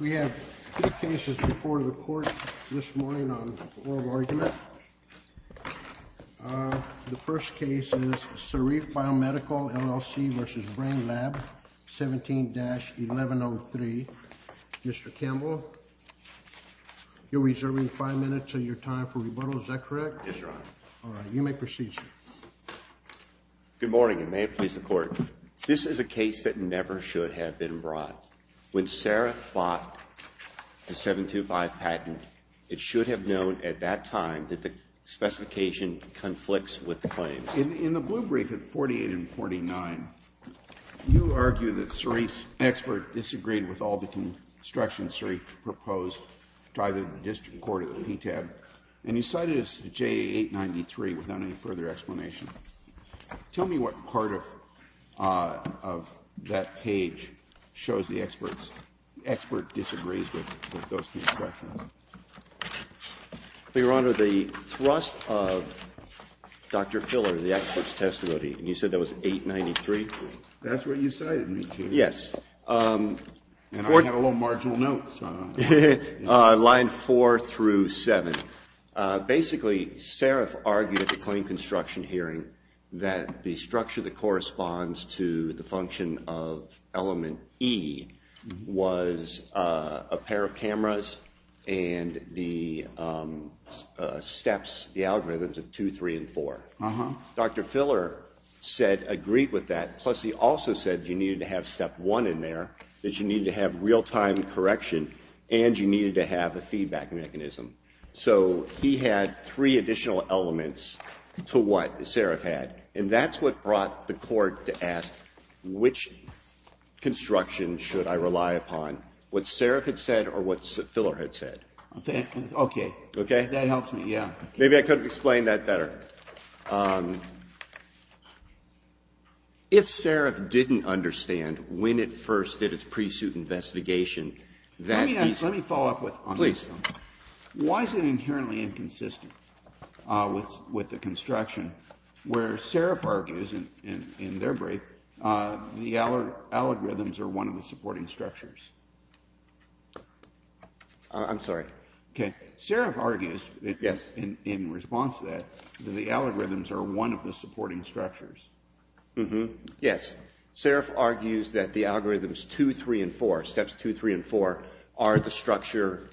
We have two cases before the Court this morning on oral argument. The first case is Sarif Biomedical, LLC v. Brainlab, 17-1103. Mr. Campbell, you're reserving five minutes of your time for rebuttal, is that correct? Yes, Your Honor. All right. You may proceed, sir. Good morning, and may it please the Court. This is a case that never should have been brought. When Saraf bought the 725 patent, it should have known at that time that the specification conflicts with the claim. In the blue brief at 48 and 49, you argue that Sarif's expert disagreed with all the constructions Sarif proposed to either the District Court or the PTAB, and you cited us at JA 893 without any further explanation. Tell me what part of that page shows the expert disagrees with those constructions. Well, Your Honor, the thrust of Dr. Filler, the expert's testimony, and you said that was 893? That's what you cited me to. Yes. And I had a little marginal note, so I don't know. Line 4 through 7. Basically, Sarif argued at the claim construction hearing that the structure that corresponds to the function of element E was a pair of cameras and the steps, the algorithms of 2, 3, and 4. Dr. Filler said, agreed with that, plus he also said you needed to have step 1 in there, that you needed to have real-time correction, and you needed to have a feedback mechanism. So he had three additional elements to what Sarif had, and that's what brought the Court to ask which construction should I rely upon, what Sarif had said or what Filler had said. Okay. Okay? That helps me, yeah. Maybe I could have explained that better. If Sarif didn't understand when it first did its pre-suit investigation, that he's Let me follow up with, on this one. Please. Why is it inherently inconsistent with the construction where Sarif argues, in their break, the algorithms are one of the supporting structures? I'm sorry. Okay. Sarif argues, in response to that, that the algorithms are one of the supporting structures. Yes. Sarif argues that the algorithms 2, 3, and 4, steps 2, 3, and 4, are the structure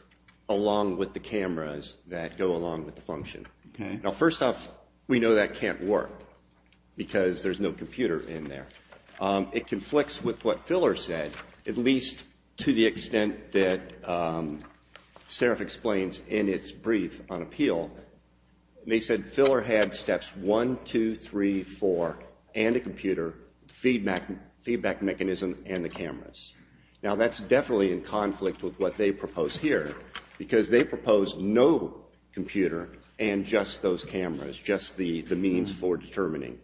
along with the cameras that go along with the function. Okay. Now, first off, we know that can't work because there's no computer in there. It conflicts with what Filler said, at least to the extent that Sarif explains in its brief on appeal. They said Filler had steps 1, 2, 3, 4, and a computer, feedback mechanism, and the cameras. Now, that's definitely in conflict with what they propose here because they propose no computer and just those cameras, just the means for determining.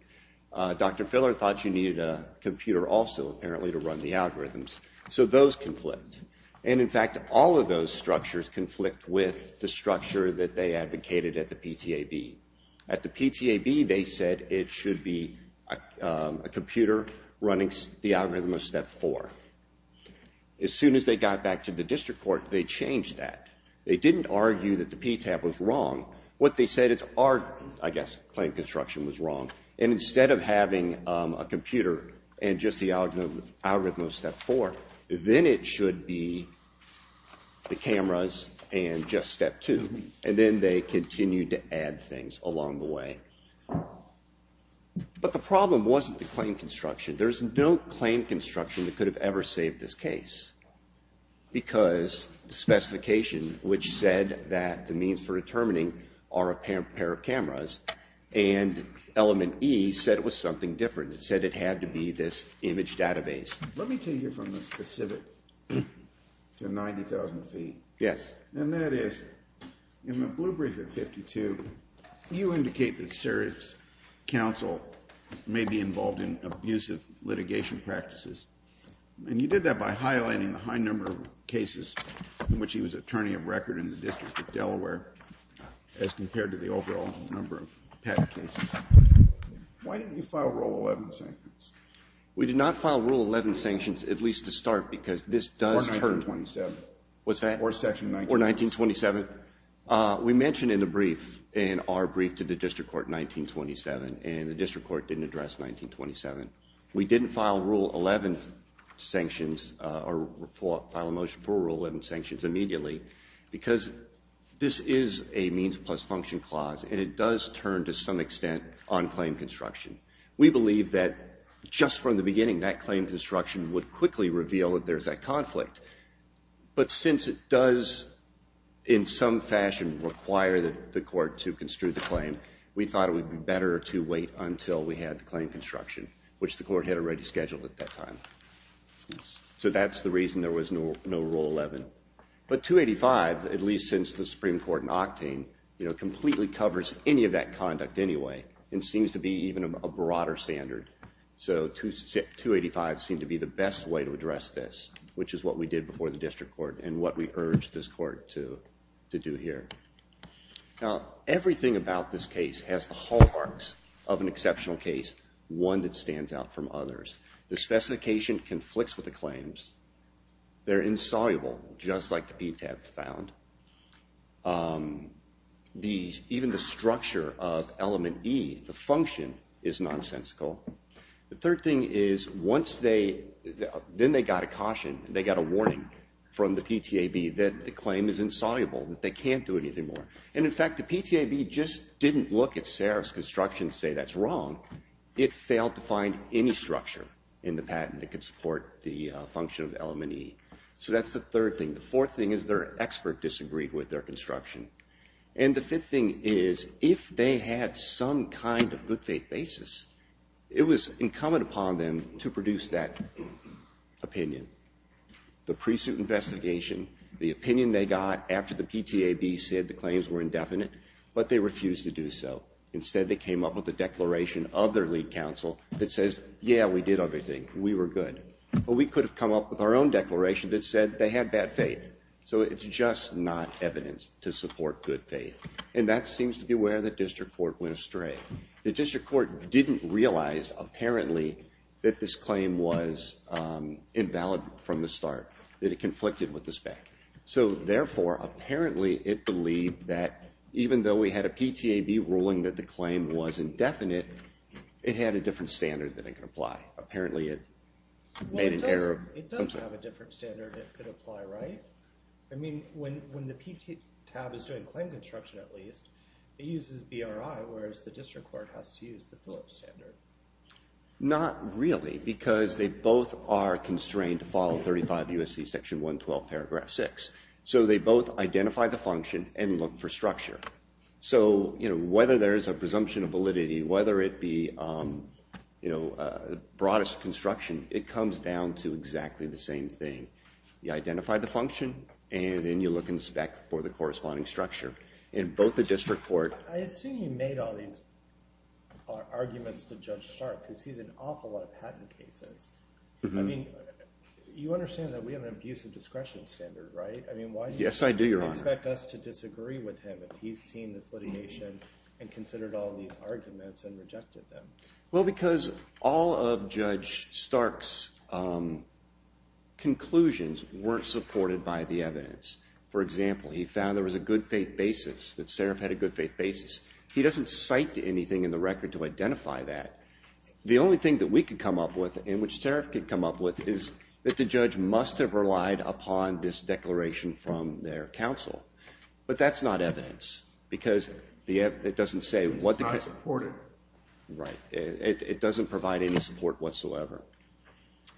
Dr. Filler thought you needed a computer also, apparently, to run the algorithms. So those conflict. And, in fact, all of those structures conflict with the structure that they advocated at the PTAB. At the PTAB, they said it should be a computer running the algorithm of step 4. As soon as they got back to the district court, they changed that. They didn't argue that the PTAB was wrong. What they said is our, I guess, claim construction was wrong. And instead of having a computer and just the algorithm of step 4, then it should be the cameras and just step 2. And then they continued to add things along the way. But the problem wasn't the claim construction. There's no claim construction that could have ever saved this case because the specification which said that the means for determining are a pair of cameras and element E said it was something different. It said it had to be this image database. Let me take you from the specifics to 90,000 feet. Yes. And that is, in the blue brief at 52, you indicate that serious counsel may be involved in abusive litigation practices. And you did that by highlighting the high number of cases in which he was attorney of record in the District of Delaware as compared to the overall number of PTAB cases. Why didn't you file Rule 11 sanctions? We did not file Rule 11 sanctions, at least to start, because this does turn. Or 1927. What's that? Or section 1927. Or 1927. We mentioned in the brief, in our brief to the district court in 1927, and the district court didn't address 1927. We didn't file Rule 11 sanctions or file a motion for Rule 11 sanctions immediately because this is a means plus function clause, and it does turn to some extent on claim construction. We believe that just from the beginning, that claim construction would quickly reveal that there's that conflict. But since it does in some fashion require the court to construe the claim, we thought it would be better to wait until we had the claim construction, which the court had already scheduled at that time. So that's the reason there was no Rule 11. But 285, at least since the Supreme Court in Octane, completely covers any of that conduct anyway. It seems to be even a broader standard. So 285 seemed to be the best way to address this, which is what we did before the district court and what we urged this court to do here. Now, everything about this case has the hallmarks of an exceptional case, one that stands out from others. The specification conflicts with the claims. They're insoluble, just like the PTAB found. Even the structure of element E, the function, is nonsensical. The third thing is once they, then they got a caution, they got a warning from the PTAB that the claim is insoluble, that they can't do anything more. And in fact, the PTAB just didn't look at Sarah's construction and say that's wrong. It failed to find any structure in the patent that could support the function of element E. So that's the third thing. The fourth thing is their expert disagreed with their construction. And the fifth thing is if they had some kind of good faith basis, it was incumbent upon them to produce that opinion. The pre-suit investigation, the opinion they got after the PTAB said the claims were indefinite, but they refused to do so. Instead, they came up with a declaration of their lead counsel that says, yeah, we did everything. We were good. But we could have come up with our own declaration that said they had bad faith. So it's just not evidence to support good faith. And that seems to be where the district court went astray. The district court didn't realize, apparently, that this claim was invalid from the start, that it conflicted with the spec. So therefore, apparently, it believed that even though we had a PTAB ruling that the claim was indefinite, it had a different standard that it could apply. Apparently it made an error. Well, it does have a different standard it could apply, right? I mean, when the PTAB is doing claim construction, at least, it uses BRI, whereas the district court has to use the Phillips standard. Not really, because they both are constrained to follow 35 U.S.C. section 112, paragraph 6. So they both identify the function and look for structure. So whether there is a presumption of validity, whether it be broadest construction, it comes down to exactly the same thing. You identify the function, and then you look in spec for the corresponding structure. In both the district court. I assume you made all these arguments to Judge Stark, because he's in an awful lot of patent cases. I mean, you understand that we have an abusive discretion standard, right? I mean, why do you expect us to disagree with him if he's seen this litigation and considered all these arguments and rejected them? Well, because all of Judge Stark's conclusions weren't supported by the evidence. For example, he found there was a good faith basis, that Seraf had a good faith basis. He doesn't cite anything in the record to identify that. The only thing that we could come up with, and which Seraf could come up with, is that the judge must have relied upon this declaration from their counsel. But that's not evidence, because it doesn't say what the case – It's not supported. Right. It doesn't provide any support whatsoever.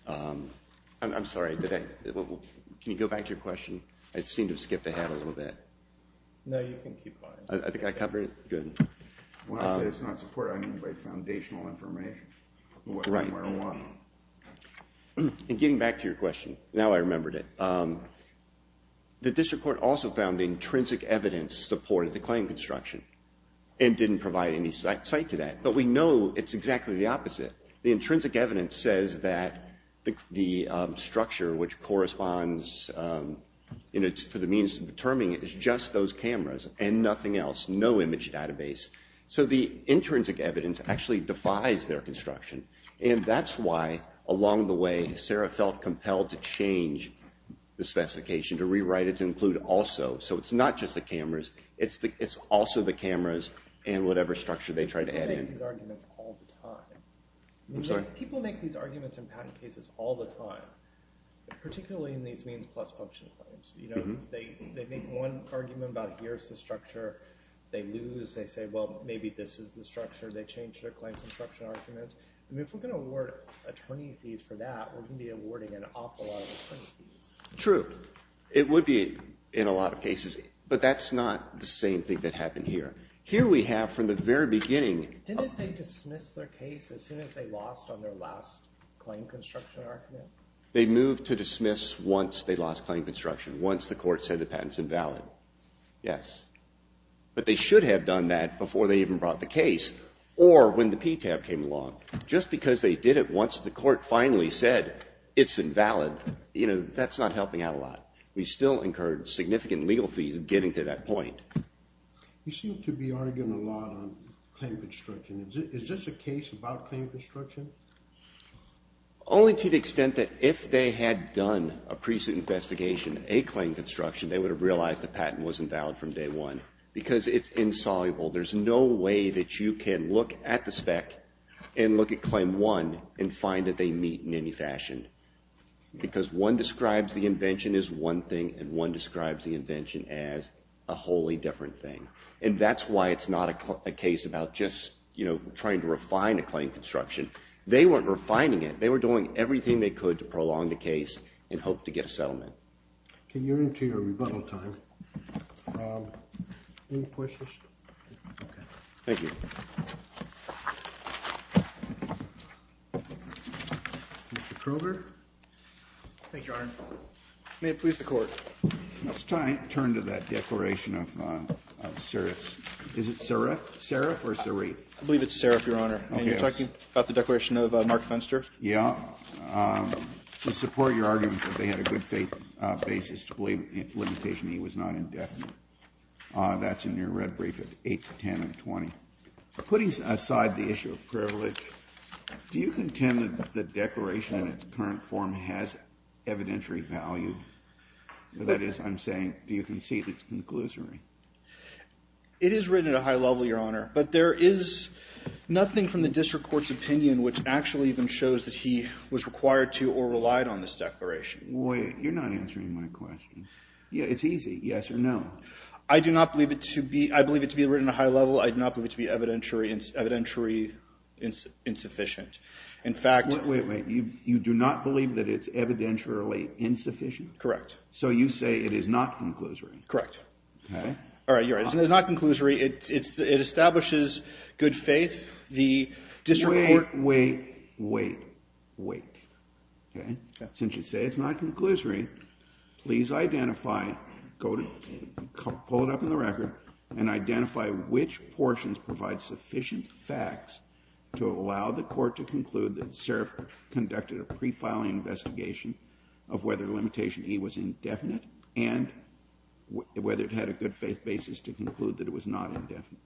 I'm sorry. Can you go back to your question? I seem to have skipped ahead a little bit. No, you can keep going. I think I covered it? Good. When I say it's not supported, I mean by foundational information. Right. And getting back to your question, now I remembered it. The district court also found the intrinsic evidence supported the claim construction But we know it's exactly the opposite. The intrinsic evidence says that the structure which corresponds for the means of determining it is just those cameras and nothing else. No image database. So the intrinsic evidence actually defies their construction, and that's why along the way Seraf felt compelled to change the specification, to rewrite it to include also. So it's not just the cameras, it's also the cameras and whatever structure they tried to add in. People make these arguments all the time. I'm sorry? People make these arguments in patent cases all the time, particularly in these means plus function claims. You know, they make one argument about here's the structure, they lose, they say well maybe this is the structure, they change their claim construction arguments. I mean if we're going to award attorney fees for that, we're going to be awarding an awful lot of attorney fees. True. It would be in a lot of cases. But that's not the same thing that happened here. Here we have, from the very beginning. Didn't they dismiss their case as soon as they lost on their last claim construction argument? They moved to dismiss once they lost claim construction, once the court said the patent is invalid. Yes. But they should have done that before they even brought the case or when the PTAB came along. Just because they did it once the court finally said it's invalid, you know, that's not helping out a lot. We still incurred significant legal fees getting to that point. You seem to be arguing a lot on claim construction. Is this a case about claim construction? Only to the extent that if they had done a precinct investigation, a claim construction, they would have realized the patent was invalid from day one. Because it's insoluble. There's no way that you can look at the spec and look at claim one and find that they meet in any fashion. Because one describes the invention as one thing and one describes the invention as a wholly different thing. And that's why it's not a case about just, you know, trying to refine a claim construction. They weren't refining it. They were doing everything they could to prolong the case and hope to get a settlement. Okay, you're into your rebuttal time. Any questions? Okay. Thank you. Thank you, Arne. May it please the court. Let's turn to that declaration of serif. Is it serif or serif? I believe it's serif, Your Honor. And you're talking about the declaration of Mark Fenster? Yeah. To support your argument that they had a good faith basis to believe limitation E was not indefinite. That's in your red brief at 8, 10, and 20. Putting aside the issue of privilege, do you contend that the declaration in its current form has evidentiary value? That is, I'm saying, do you concede it's conclusory? It is written at a high level, Your Honor. But there is nothing from the district court's opinion which actually even shows that he was required to or relied on this declaration. Wait. You're not answering my question. Yeah, it's easy. Yes or no. I do not believe it to be, I believe it to be written at a high level. I do not believe it to be evidentiary insufficient. In fact... Wait, wait. You do not believe that it's evidentiary insufficient? Correct. So you say it is not conclusory? Correct. Okay. All right, Your Honor. It's not conclusory. It establishes good faith. The district court... Wait, wait, wait, wait. Okay? Since you say it's not conclusory, please identify, pull it up in the record, and identify which portions provide sufficient facts to allow the court to conclude that Sarif conducted a pre-filing investigation of whether Limitation E was indefinite and whether it had a good faith basis to conclude that it was not indefinite.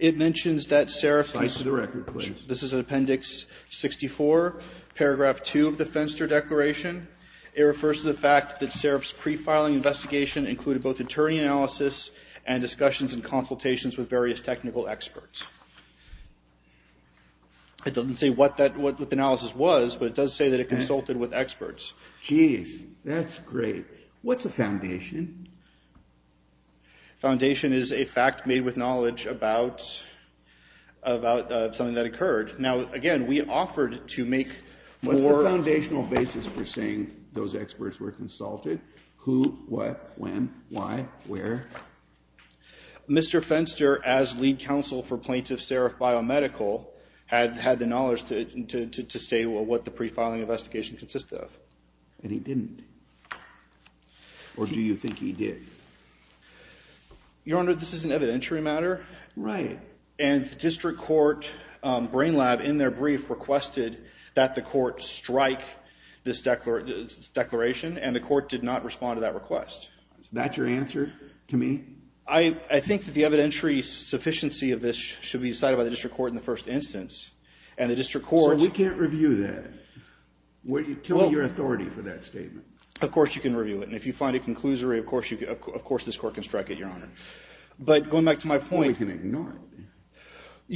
It mentions that Sarif... Cite the record, please. This is in Appendix 64, Paragraph 2 of the Fenster Declaration. It refers to the fact that Sarif's pre-filing investigation included both attorney analysis and discussions and consultations with various technical experts. It doesn't say what the analysis was, but it does say that it consulted with experts. Jeez. That's great. What's a foundation? Foundation is a fact made with knowledge about something that occurred. Now, again, we offered to make more... Those experts were consulted. Who? What? When? Why? Where? Mr. Fenster, as lead counsel for Plaintiff Sarif Biomedical, had the knowledge to say what the pre-filing investigation consisted of. And he didn't. Or do you think he did? Your Honor, this is an evidentiary matter. Right. And the district court brain lab, in their brief, requested that the court strike this declaration. And the court did not respond to that request. Is that your answer to me? I think that the evidentiary sufficiency of this should be decided by the district court in the first instance. And the district court... So we can't review that? Tell me your authority for that statement. Of course you can review it. And if you find a conclusory, of course this court can strike it, Your Honor. But going back to my point... You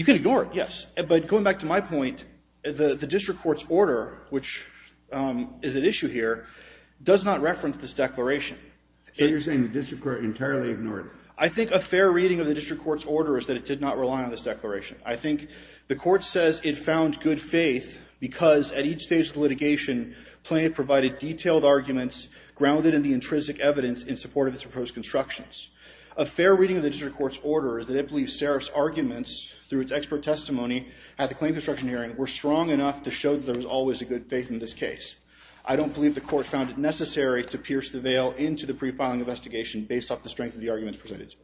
can ignore it, yes. But going back to my point, the district court's order, which is at issue here, does not reference this declaration. So you're saying the district court entirely ignored it? I think a fair reading of the district court's order is that it did not rely on this declaration. I think the court says it found good faith because at each stage of the litigation, Plaintiff provided detailed arguments grounded in the intrinsic evidence in support of its proposed constructions. A fair reading of the district court's order is that it believes Sarif's arguments, through its expert testimony at the claim construction hearing, were strong enough to show that there was always a good faith in this case. I don't believe the court found it necessary to pierce the veil into the pre-filing investigation based off the strength of the arguments presented.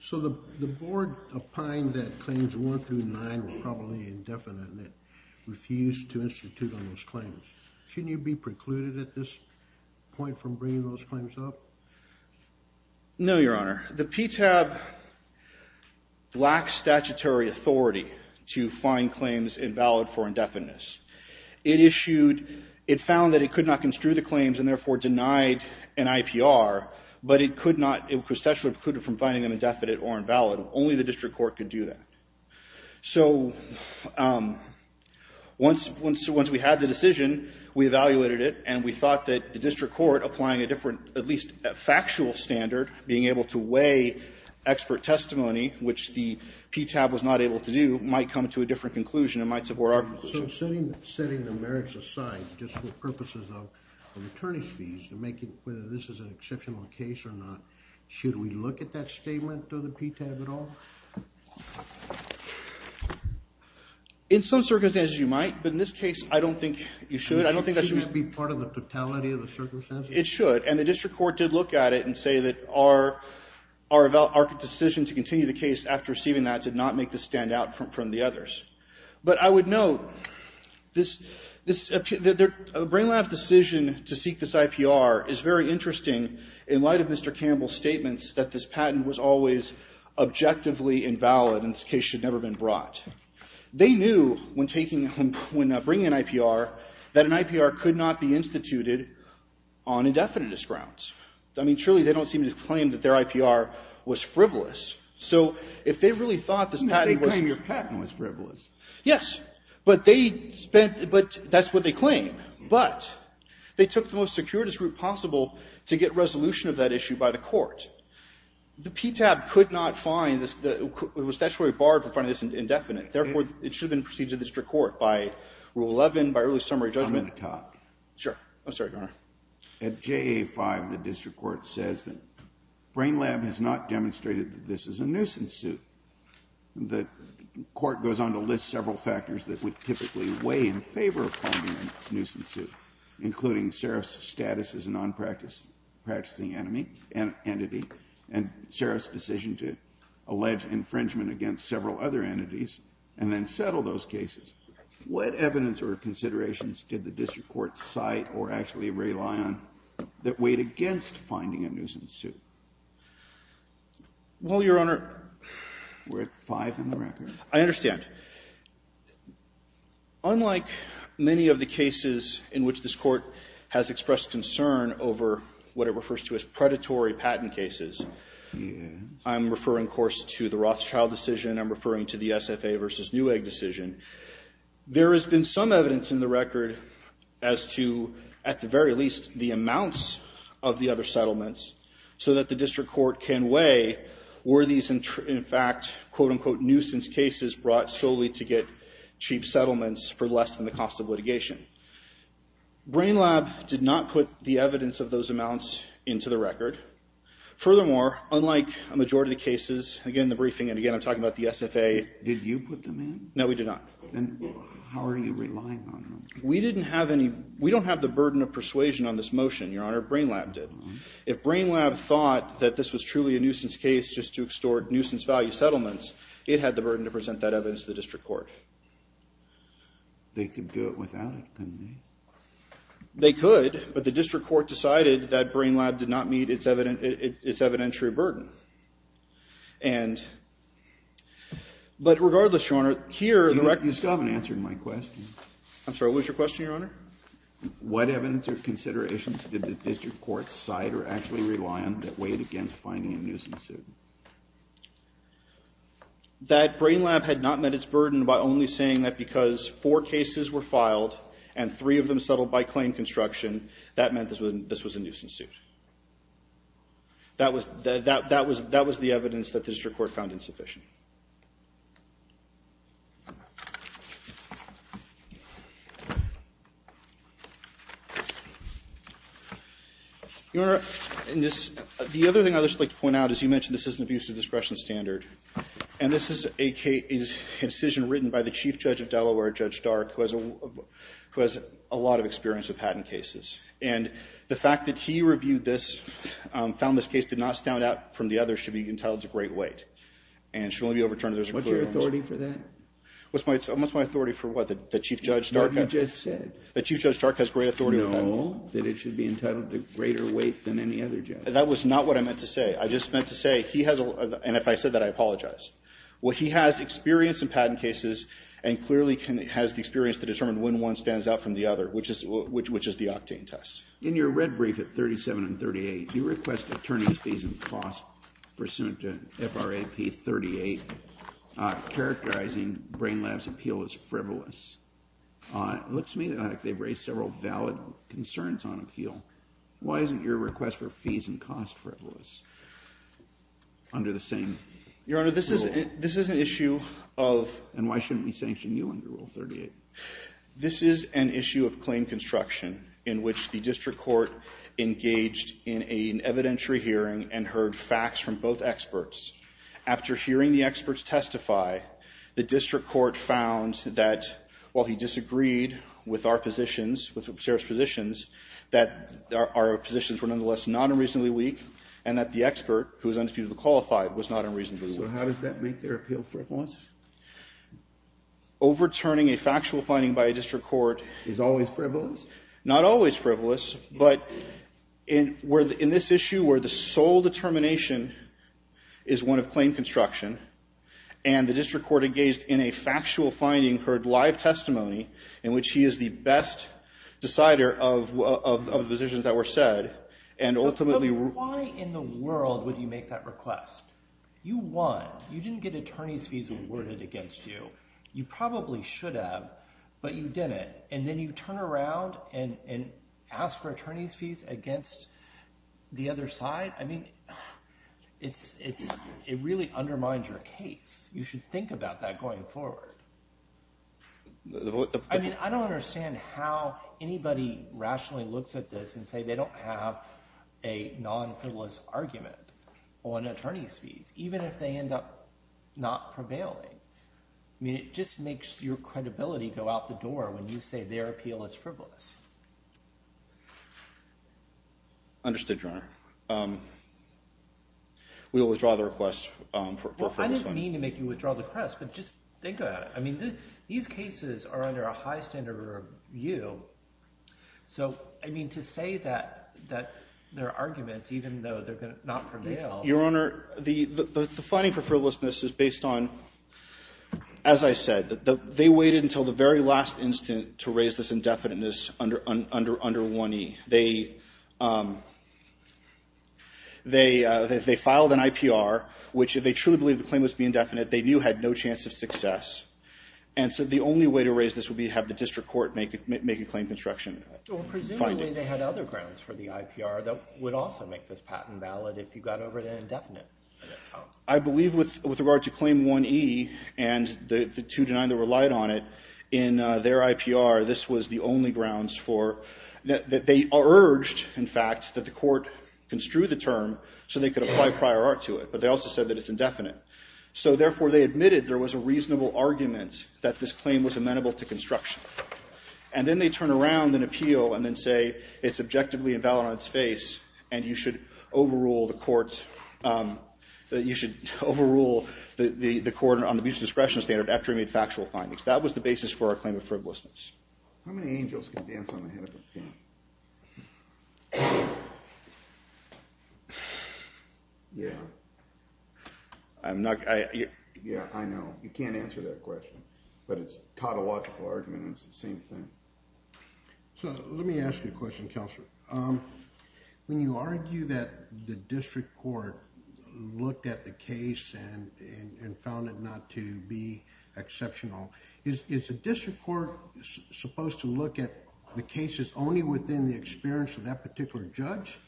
So the board opined that claims 1 through 9 were probably indefinite and it refused to institute on those claims. Shouldn't you be precluded at this point from bringing those claims up? No, Your Honor. The PTAB lacks statutory authority to find claims invalid for indefiniteness. It issued, it found that it could not construe the claims and therefore denied an IPR, but it could not, it was statutorily precluded from finding them indefinite or invalid. Only the district court could do that. So once we had the decision, we evaluated it and we thought that the district court, applying a different, at least a factual standard, being able to weigh expert testimony, which the PTAB was not able to do, might come to a different conclusion and might support our conclusion. So setting the merits aside, just for purposes of attorney's fees, whether this is an exceptional case or not, should we look at that statement of the PTAB at all? In some circumstances, you might. But in this case, I don't think you should. Shouldn't it be part of the totality of the circumstances? It should. And the district court did look at it and say that our decision to continue the case after receiving that did not make this stand out from the others. But I would note that Brain Lab's decision to seek this IPR is very interesting in light of Mr. Campbell's statements that this patent was always objectively invalid and this case should never have been brought. They knew when bringing an IPR that an IPR could not be instituted on indefiniteness grounds. I mean, surely they don't seem to claim that their IPR was frivolous. So if they really thought this patent was... They claim your patent was frivolous. Yes. But that's what they claim. But they took the most circuitous route possible to get resolution of that issue by the court. The PTAB could not find... It was statutorily barred from finding this indefinite. Therefore, it should have been proceeded to the district court by Rule 11, by early summary judgment. I'm going to talk. Sure. I'm sorry, Your Honor. At JA-5, the district court says that Brain Lab has not demonstrated that this is a nuisance suit. The court goes on to list several factors that would typically weigh in favor of calling it a nuisance suit, including Seraf's status as a non-practicing entity and Seraf's decision to allege infringement against several other entities, and then settle those cases. What evidence or considerations did the district court cite or actually rely on that weighed against finding a nuisance suit? Well, Your Honor... We're at 5 in the record. I understand. Unlike many of the cases in which this court has expressed concern over what it refers to as predatory patent cases, I'm referring, of course, to the Rothschild decision. I'm referring to the SFA v. Newegg decision. There has been some evidence in the record as to, at the very least, the amounts of the other settlements so that the district court can weigh were these, in fact, quote-unquote, nuisance cases brought solely to get cheap settlements for less than the cost of litigation. Brain Lab did not put the evidence of those amounts into the record. Furthermore, unlike a majority of the cases, again, the briefing, and again, I'm talking about the SFA... Did you put them in? No, we did not. Then how are you relying on them? We didn't have any... We don't have the burden of persuasion on this motion, Your Honor. Brain Lab did. If Brain Lab thought that this was truly a nuisance case just to extort nuisance value settlements, it had the burden to present that evidence to the district court. They could do it without it, couldn't they? They could, but the district court decided that Brain Lab did not meet its evidentiary burden. And... But regardless, Your Honor, here, the record... You still haven't answered my question. I'm sorry, what was your question, Your Honor? What evidence or considerations did the district court cite or actually rely on that weighed against finding a nuisance suit? That Brain Lab had not met its burden by only saying that because four cases were filed and three of them settled by claim construction, that meant this was a nuisance suit. That was the evidence that the district court found insufficient. Your Honor, the other thing I'd just like to point out is you mentioned this is an abuse of discretion standard. And this is a decision written by the chief judge of Delaware, Judge Dark, who has a lot of experience with patent cases. And the fact that he reviewed this, found this case did not stand out from the others, And should be entitled to great weight. What's your authority for that? What's my authority for what, the chief judge Dark? What you just said. The chief judge Dark has great authority. No, that it should be entitled to greater weight than any other judge. That was not what I meant to say. I just meant to say he has a... And if I said that, I apologize. Well, he has experience in patent cases and clearly has the experience to determine when one stands out from the other, which is the octane test. In your red brief at 37 and 38, you request attorney's fees and costs pursuant to FRAP 38, characterizing Brain Lab's appeal as frivolous. It looks to me like they've raised several valid concerns on appeal. Why isn't your request for fees and costs frivolous under the same rule? Your Honor, this is an issue of... And why shouldn't we sanction you under Rule 38? This is an issue of claim construction in which the district court engaged in an evidentiary hearing and heard facts from both experts. After hearing the experts testify, the district court found that while he disagreed with our positions, with Sarah's positions, that our positions were nonetheless not unreasonably weak and that the expert, who is undisputably qualified, was not unreasonably weak. So how does that make their appeal frivolous? Overturning a factual finding by a district court is always frivolous. Not always frivolous, but in this issue where the sole determination is one of claim construction and the district court engaged in a factual finding, heard live testimony in which he is the best decider of the positions that were said, and ultimately... But why in the world would you make that request? You won. You didn't get attorney's fees awarded against you. You probably should have, but you didn't. And then you turn around and ask for attorney's fees against the other side? I mean, it really undermines your case. You should think about that going forward. I mean, I don't understand how anybody rationally looks at this and say they don't have a non-frivolous argument on attorney's fees, even if they end up not prevailing. I mean, it just makes your credibility go out the door when you say their appeal is frivolous. Understood, Your Honor. We will withdraw the request for this one. Well, I didn't mean to make you withdraw the request, but just think about it. I mean, these cases are under a high standard of review. So, I mean, to say that there are arguments, even though they're not prevailing... Your Honor, the finding for frivolousness is based on, as I said, they waited until the very last instant to raise this indefiniteness under 1E. They filed an IPR, which if they truly believed the claim must be indefinite, they knew had no chance of success. And so the only way to raise this would be to have the district court make a claim of obstruction. Well, presumably they had other grounds for the IPR that would also make this patent valid if you got over the indefinite. I believe with regard to Claim 1E and the two denied that relied on it, in their IPR, this was the only grounds for... They urged, in fact, that the court construe the term so they could apply prior art to it. But they also said that it's indefinite. So, therefore, they admitted there was a reasonable argument that this claim was amenable to construction. And then they turn around an appeal and then say it's objectively invalid on its face and you should overrule the court's... You should overrule the court on the abuse of discretion standard after it made factual findings. That was the basis for our claim of frivolousness. How many angels can dance on the head of a king? Yeah. I'm not... Yeah, I know. You can't answer that question. But it's a tautological argument and it's the same thing. So let me ask you a question, Kelser. When you argue that the district court looked at the case and found it not to be exceptional, is the district court supposed to look at the cases only within the experience of that particular judge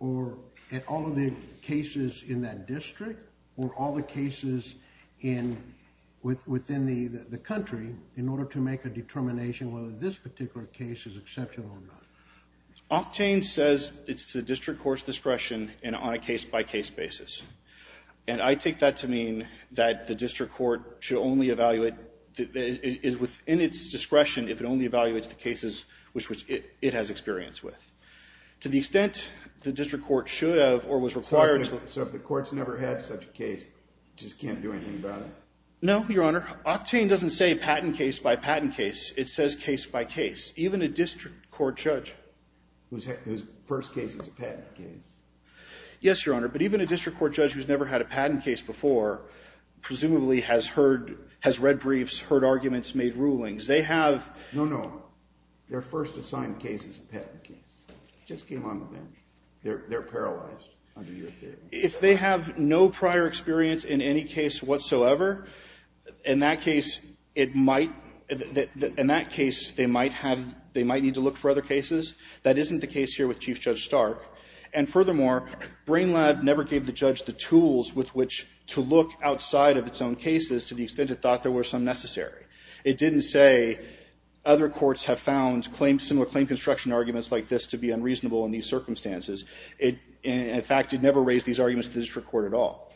or at all of the cases in that district or all the cases within the country in order to make a determination whether this particular case is exceptional or not? Octane says it's to district court's discretion and on a case-by-case basis. And I take that to mean that the district court should only evaluate... is within its discretion if it only evaluates the cases which it has experience with. To the extent the district court should have or was required to... So if the court's never had such a case, it just can't do anything about it? No, Your Honor. Octane doesn't say patent case by patent case. It says case by case. Even a district court judge... Whose first case is a patent case. Yes, Your Honor, but even a district court judge who's never had a patent case before presumably has read briefs, heard arguments, made rulings. They have... No, no. Their first assigned case is a patent case. It just came on the bench. They're paralyzed under your theory. If they have no prior experience in any case whatsoever, in that case, it might... In that case, they might have... They might need to look for other cases. That isn't the case here with Chief Judge Stark. And furthermore, Brain Lab never gave the judge the tools with which to look outside of its own cases to the extent it thought there were some necessary. It didn't say other courts have found similar claim construction arguments like this to be unreasonable in these circumstances. In fact, it never raised these arguments to the district court at all.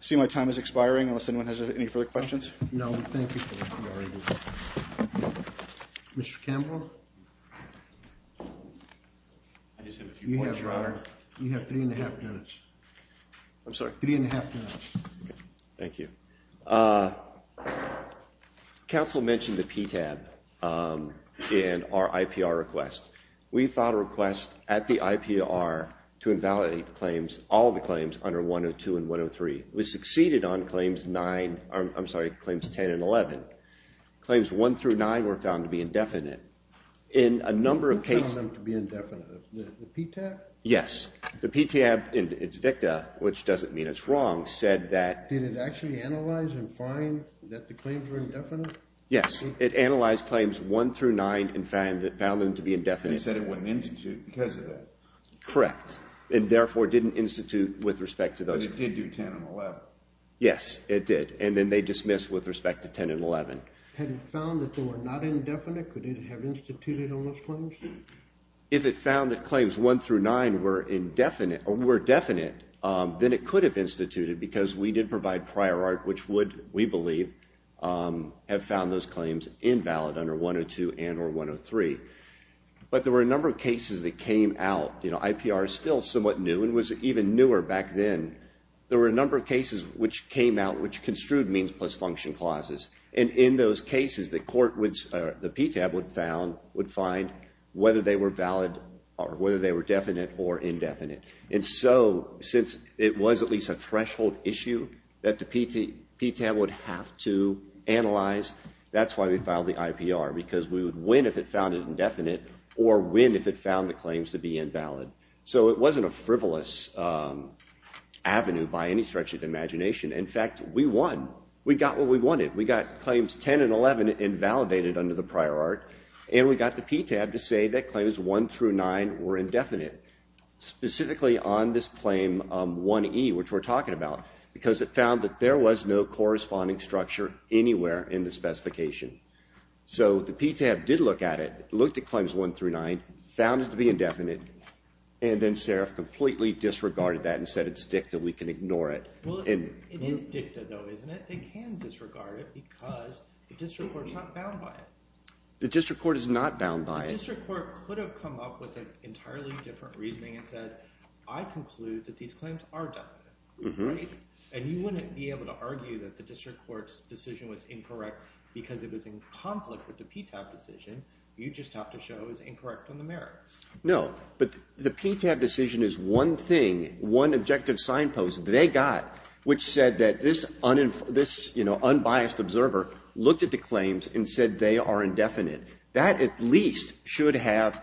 I see my time is expiring. Unless anyone has any further questions? No, thank you for that. Mr. Campbell? I just have a few points, Your Honor. You have 3 1⁄2 minutes. I'm sorry? 3 1⁄2 minutes. Thank you. Council mentioned the PTAB in our IPR request. We filed a request at the IPR to invalidate the claims, under 102 and 103. We succeeded on claims 9... I'm sorry, claims 10 and 11. Claims 1 through 9 were found to be indefinite. In a number of cases... What found them to be indefinite? The PTAB? Yes. The PTAB in its dicta, which doesn't mean it's wrong, said that... Did it actually analyze and find that the claims were indefinite? Yes. It analyzed claims 1 through 9 and found them to be indefinite. And said it wouldn't institute because of that. Correct. And therefore didn't institute with respect to those... But it did do 10 and 11. Yes, it did. And then they dismissed with respect to 10 and 11. Had it found that they were not indefinite? Could it have instituted all those claims? If it found that claims 1 through 9 were indefinite, or were definite, then it could have instituted because we did provide prior art, which would, we believe, have found those claims invalid under 102 and or 103. But there were a number of cases that came out. You know, IPR is still somewhat new and was even newer back then. There were a number of cases which came out which construed means plus function clauses. And in those cases, the court would... The PTAB would find whether they were valid or whether they were definite or indefinite. And so, since it was at least a threshold issue that the PTAB would have to analyze, that's why we filed the IPR because we would win if it found it indefinite or win if it found the claims to be invalid. So it wasn't a frivolous avenue by any stretch of the imagination. In fact, we won. We got what we wanted. We got claims 10 and 11 invalidated under the prior art, and we got the PTAB to say that claims 1 through 9 were indefinite, specifically on this claim 1E, which we're talking about, because it found that there was no corresponding structure anywhere in the specification. So the PTAB did look at it, looked at claims 1 through 9, found it to be indefinite, and then Sarif completely disregarded that and said it's dicta, we can ignore it. Well, it is dicta, though, isn't it? They can disregard it because the district court's not bound by it. The district court is not bound by it. The district court could have come up with an entirely different reasoning and said, I conclude that these claims are definite, right? And you wouldn't be able to argue that the district court's decision was incorrect because it was in conflict with the PTAB decision. You'd just have to show it was incorrect on the merits. No, but the PTAB decision is one thing, one objective signpost they got, which said that this unbiased observer looked at the claims and said they are indefinite. That at least should have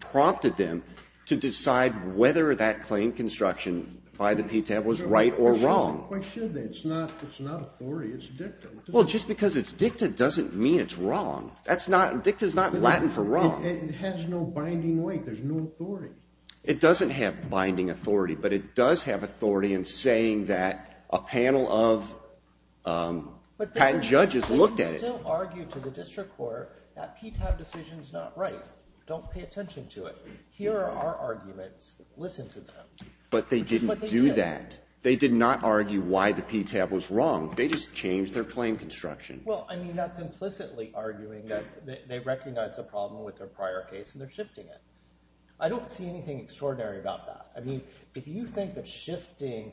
prompted them to decide whether that claim construction by the PTAB was right or wrong. Why should they? It's not authority, it's dicta. Well, just because it's dicta doesn't mean it's wrong. That's not, dicta's not Latin for wrong. It has no binding weight, there's no authority. It doesn't have binding authority, but it does have authority in saying that a panel of patent judges looked at it. They can still argue to the district court that PTAB decision's not right. Don't pay attention to it. Here are our arguments. Listen to them. But they didn't do that. They did not argue why the PTAB was wrong. They just changed their claim construction. Well, I mean, that's implicitly arguing that they recognize the problem with their prior case and they're shifting it. I don't see anything extraordinary about that. I mean, if you think that shifting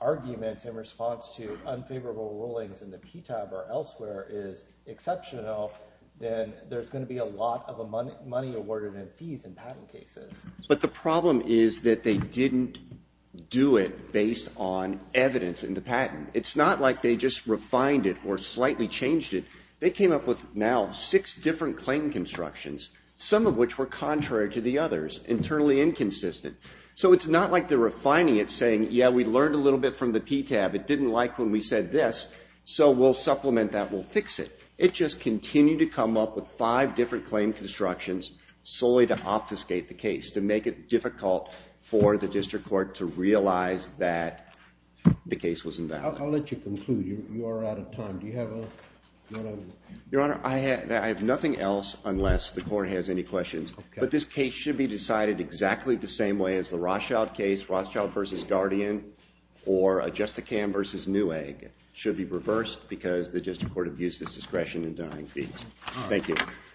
arguments in response to unfavorable rulings in the PTAB or elsewhere is exceptional, then there's going to be a lot of money awarded in fees in patent cases. But the problem is that they didn't do it based on evidence in the patent. It's not like they just refined it or slightly changed it. They came up with now six different claim constructions, some of which were contrary to the others, internally inconsistent. So it's not like they're refining it, saying, yeah, we learned a little bit from the PTAB. It didn't like when we said this, so we'll supplement that. We'll fix it. It just continued to come up with five different claim constructions solely to obfuscate the case, to make it difficult for the district court to realize that the case was invalid. I'll let you conclude. You are out of time. Do you have a... Your Honor, I have nothing else unless the court has any questions. But this case should be decided exactly the same way as the Rothschild case, Rothschild v. Guardian or Justicam v. Newegg should be reversed because the district court abused its discretion in denying fees. Thank you. Thank you.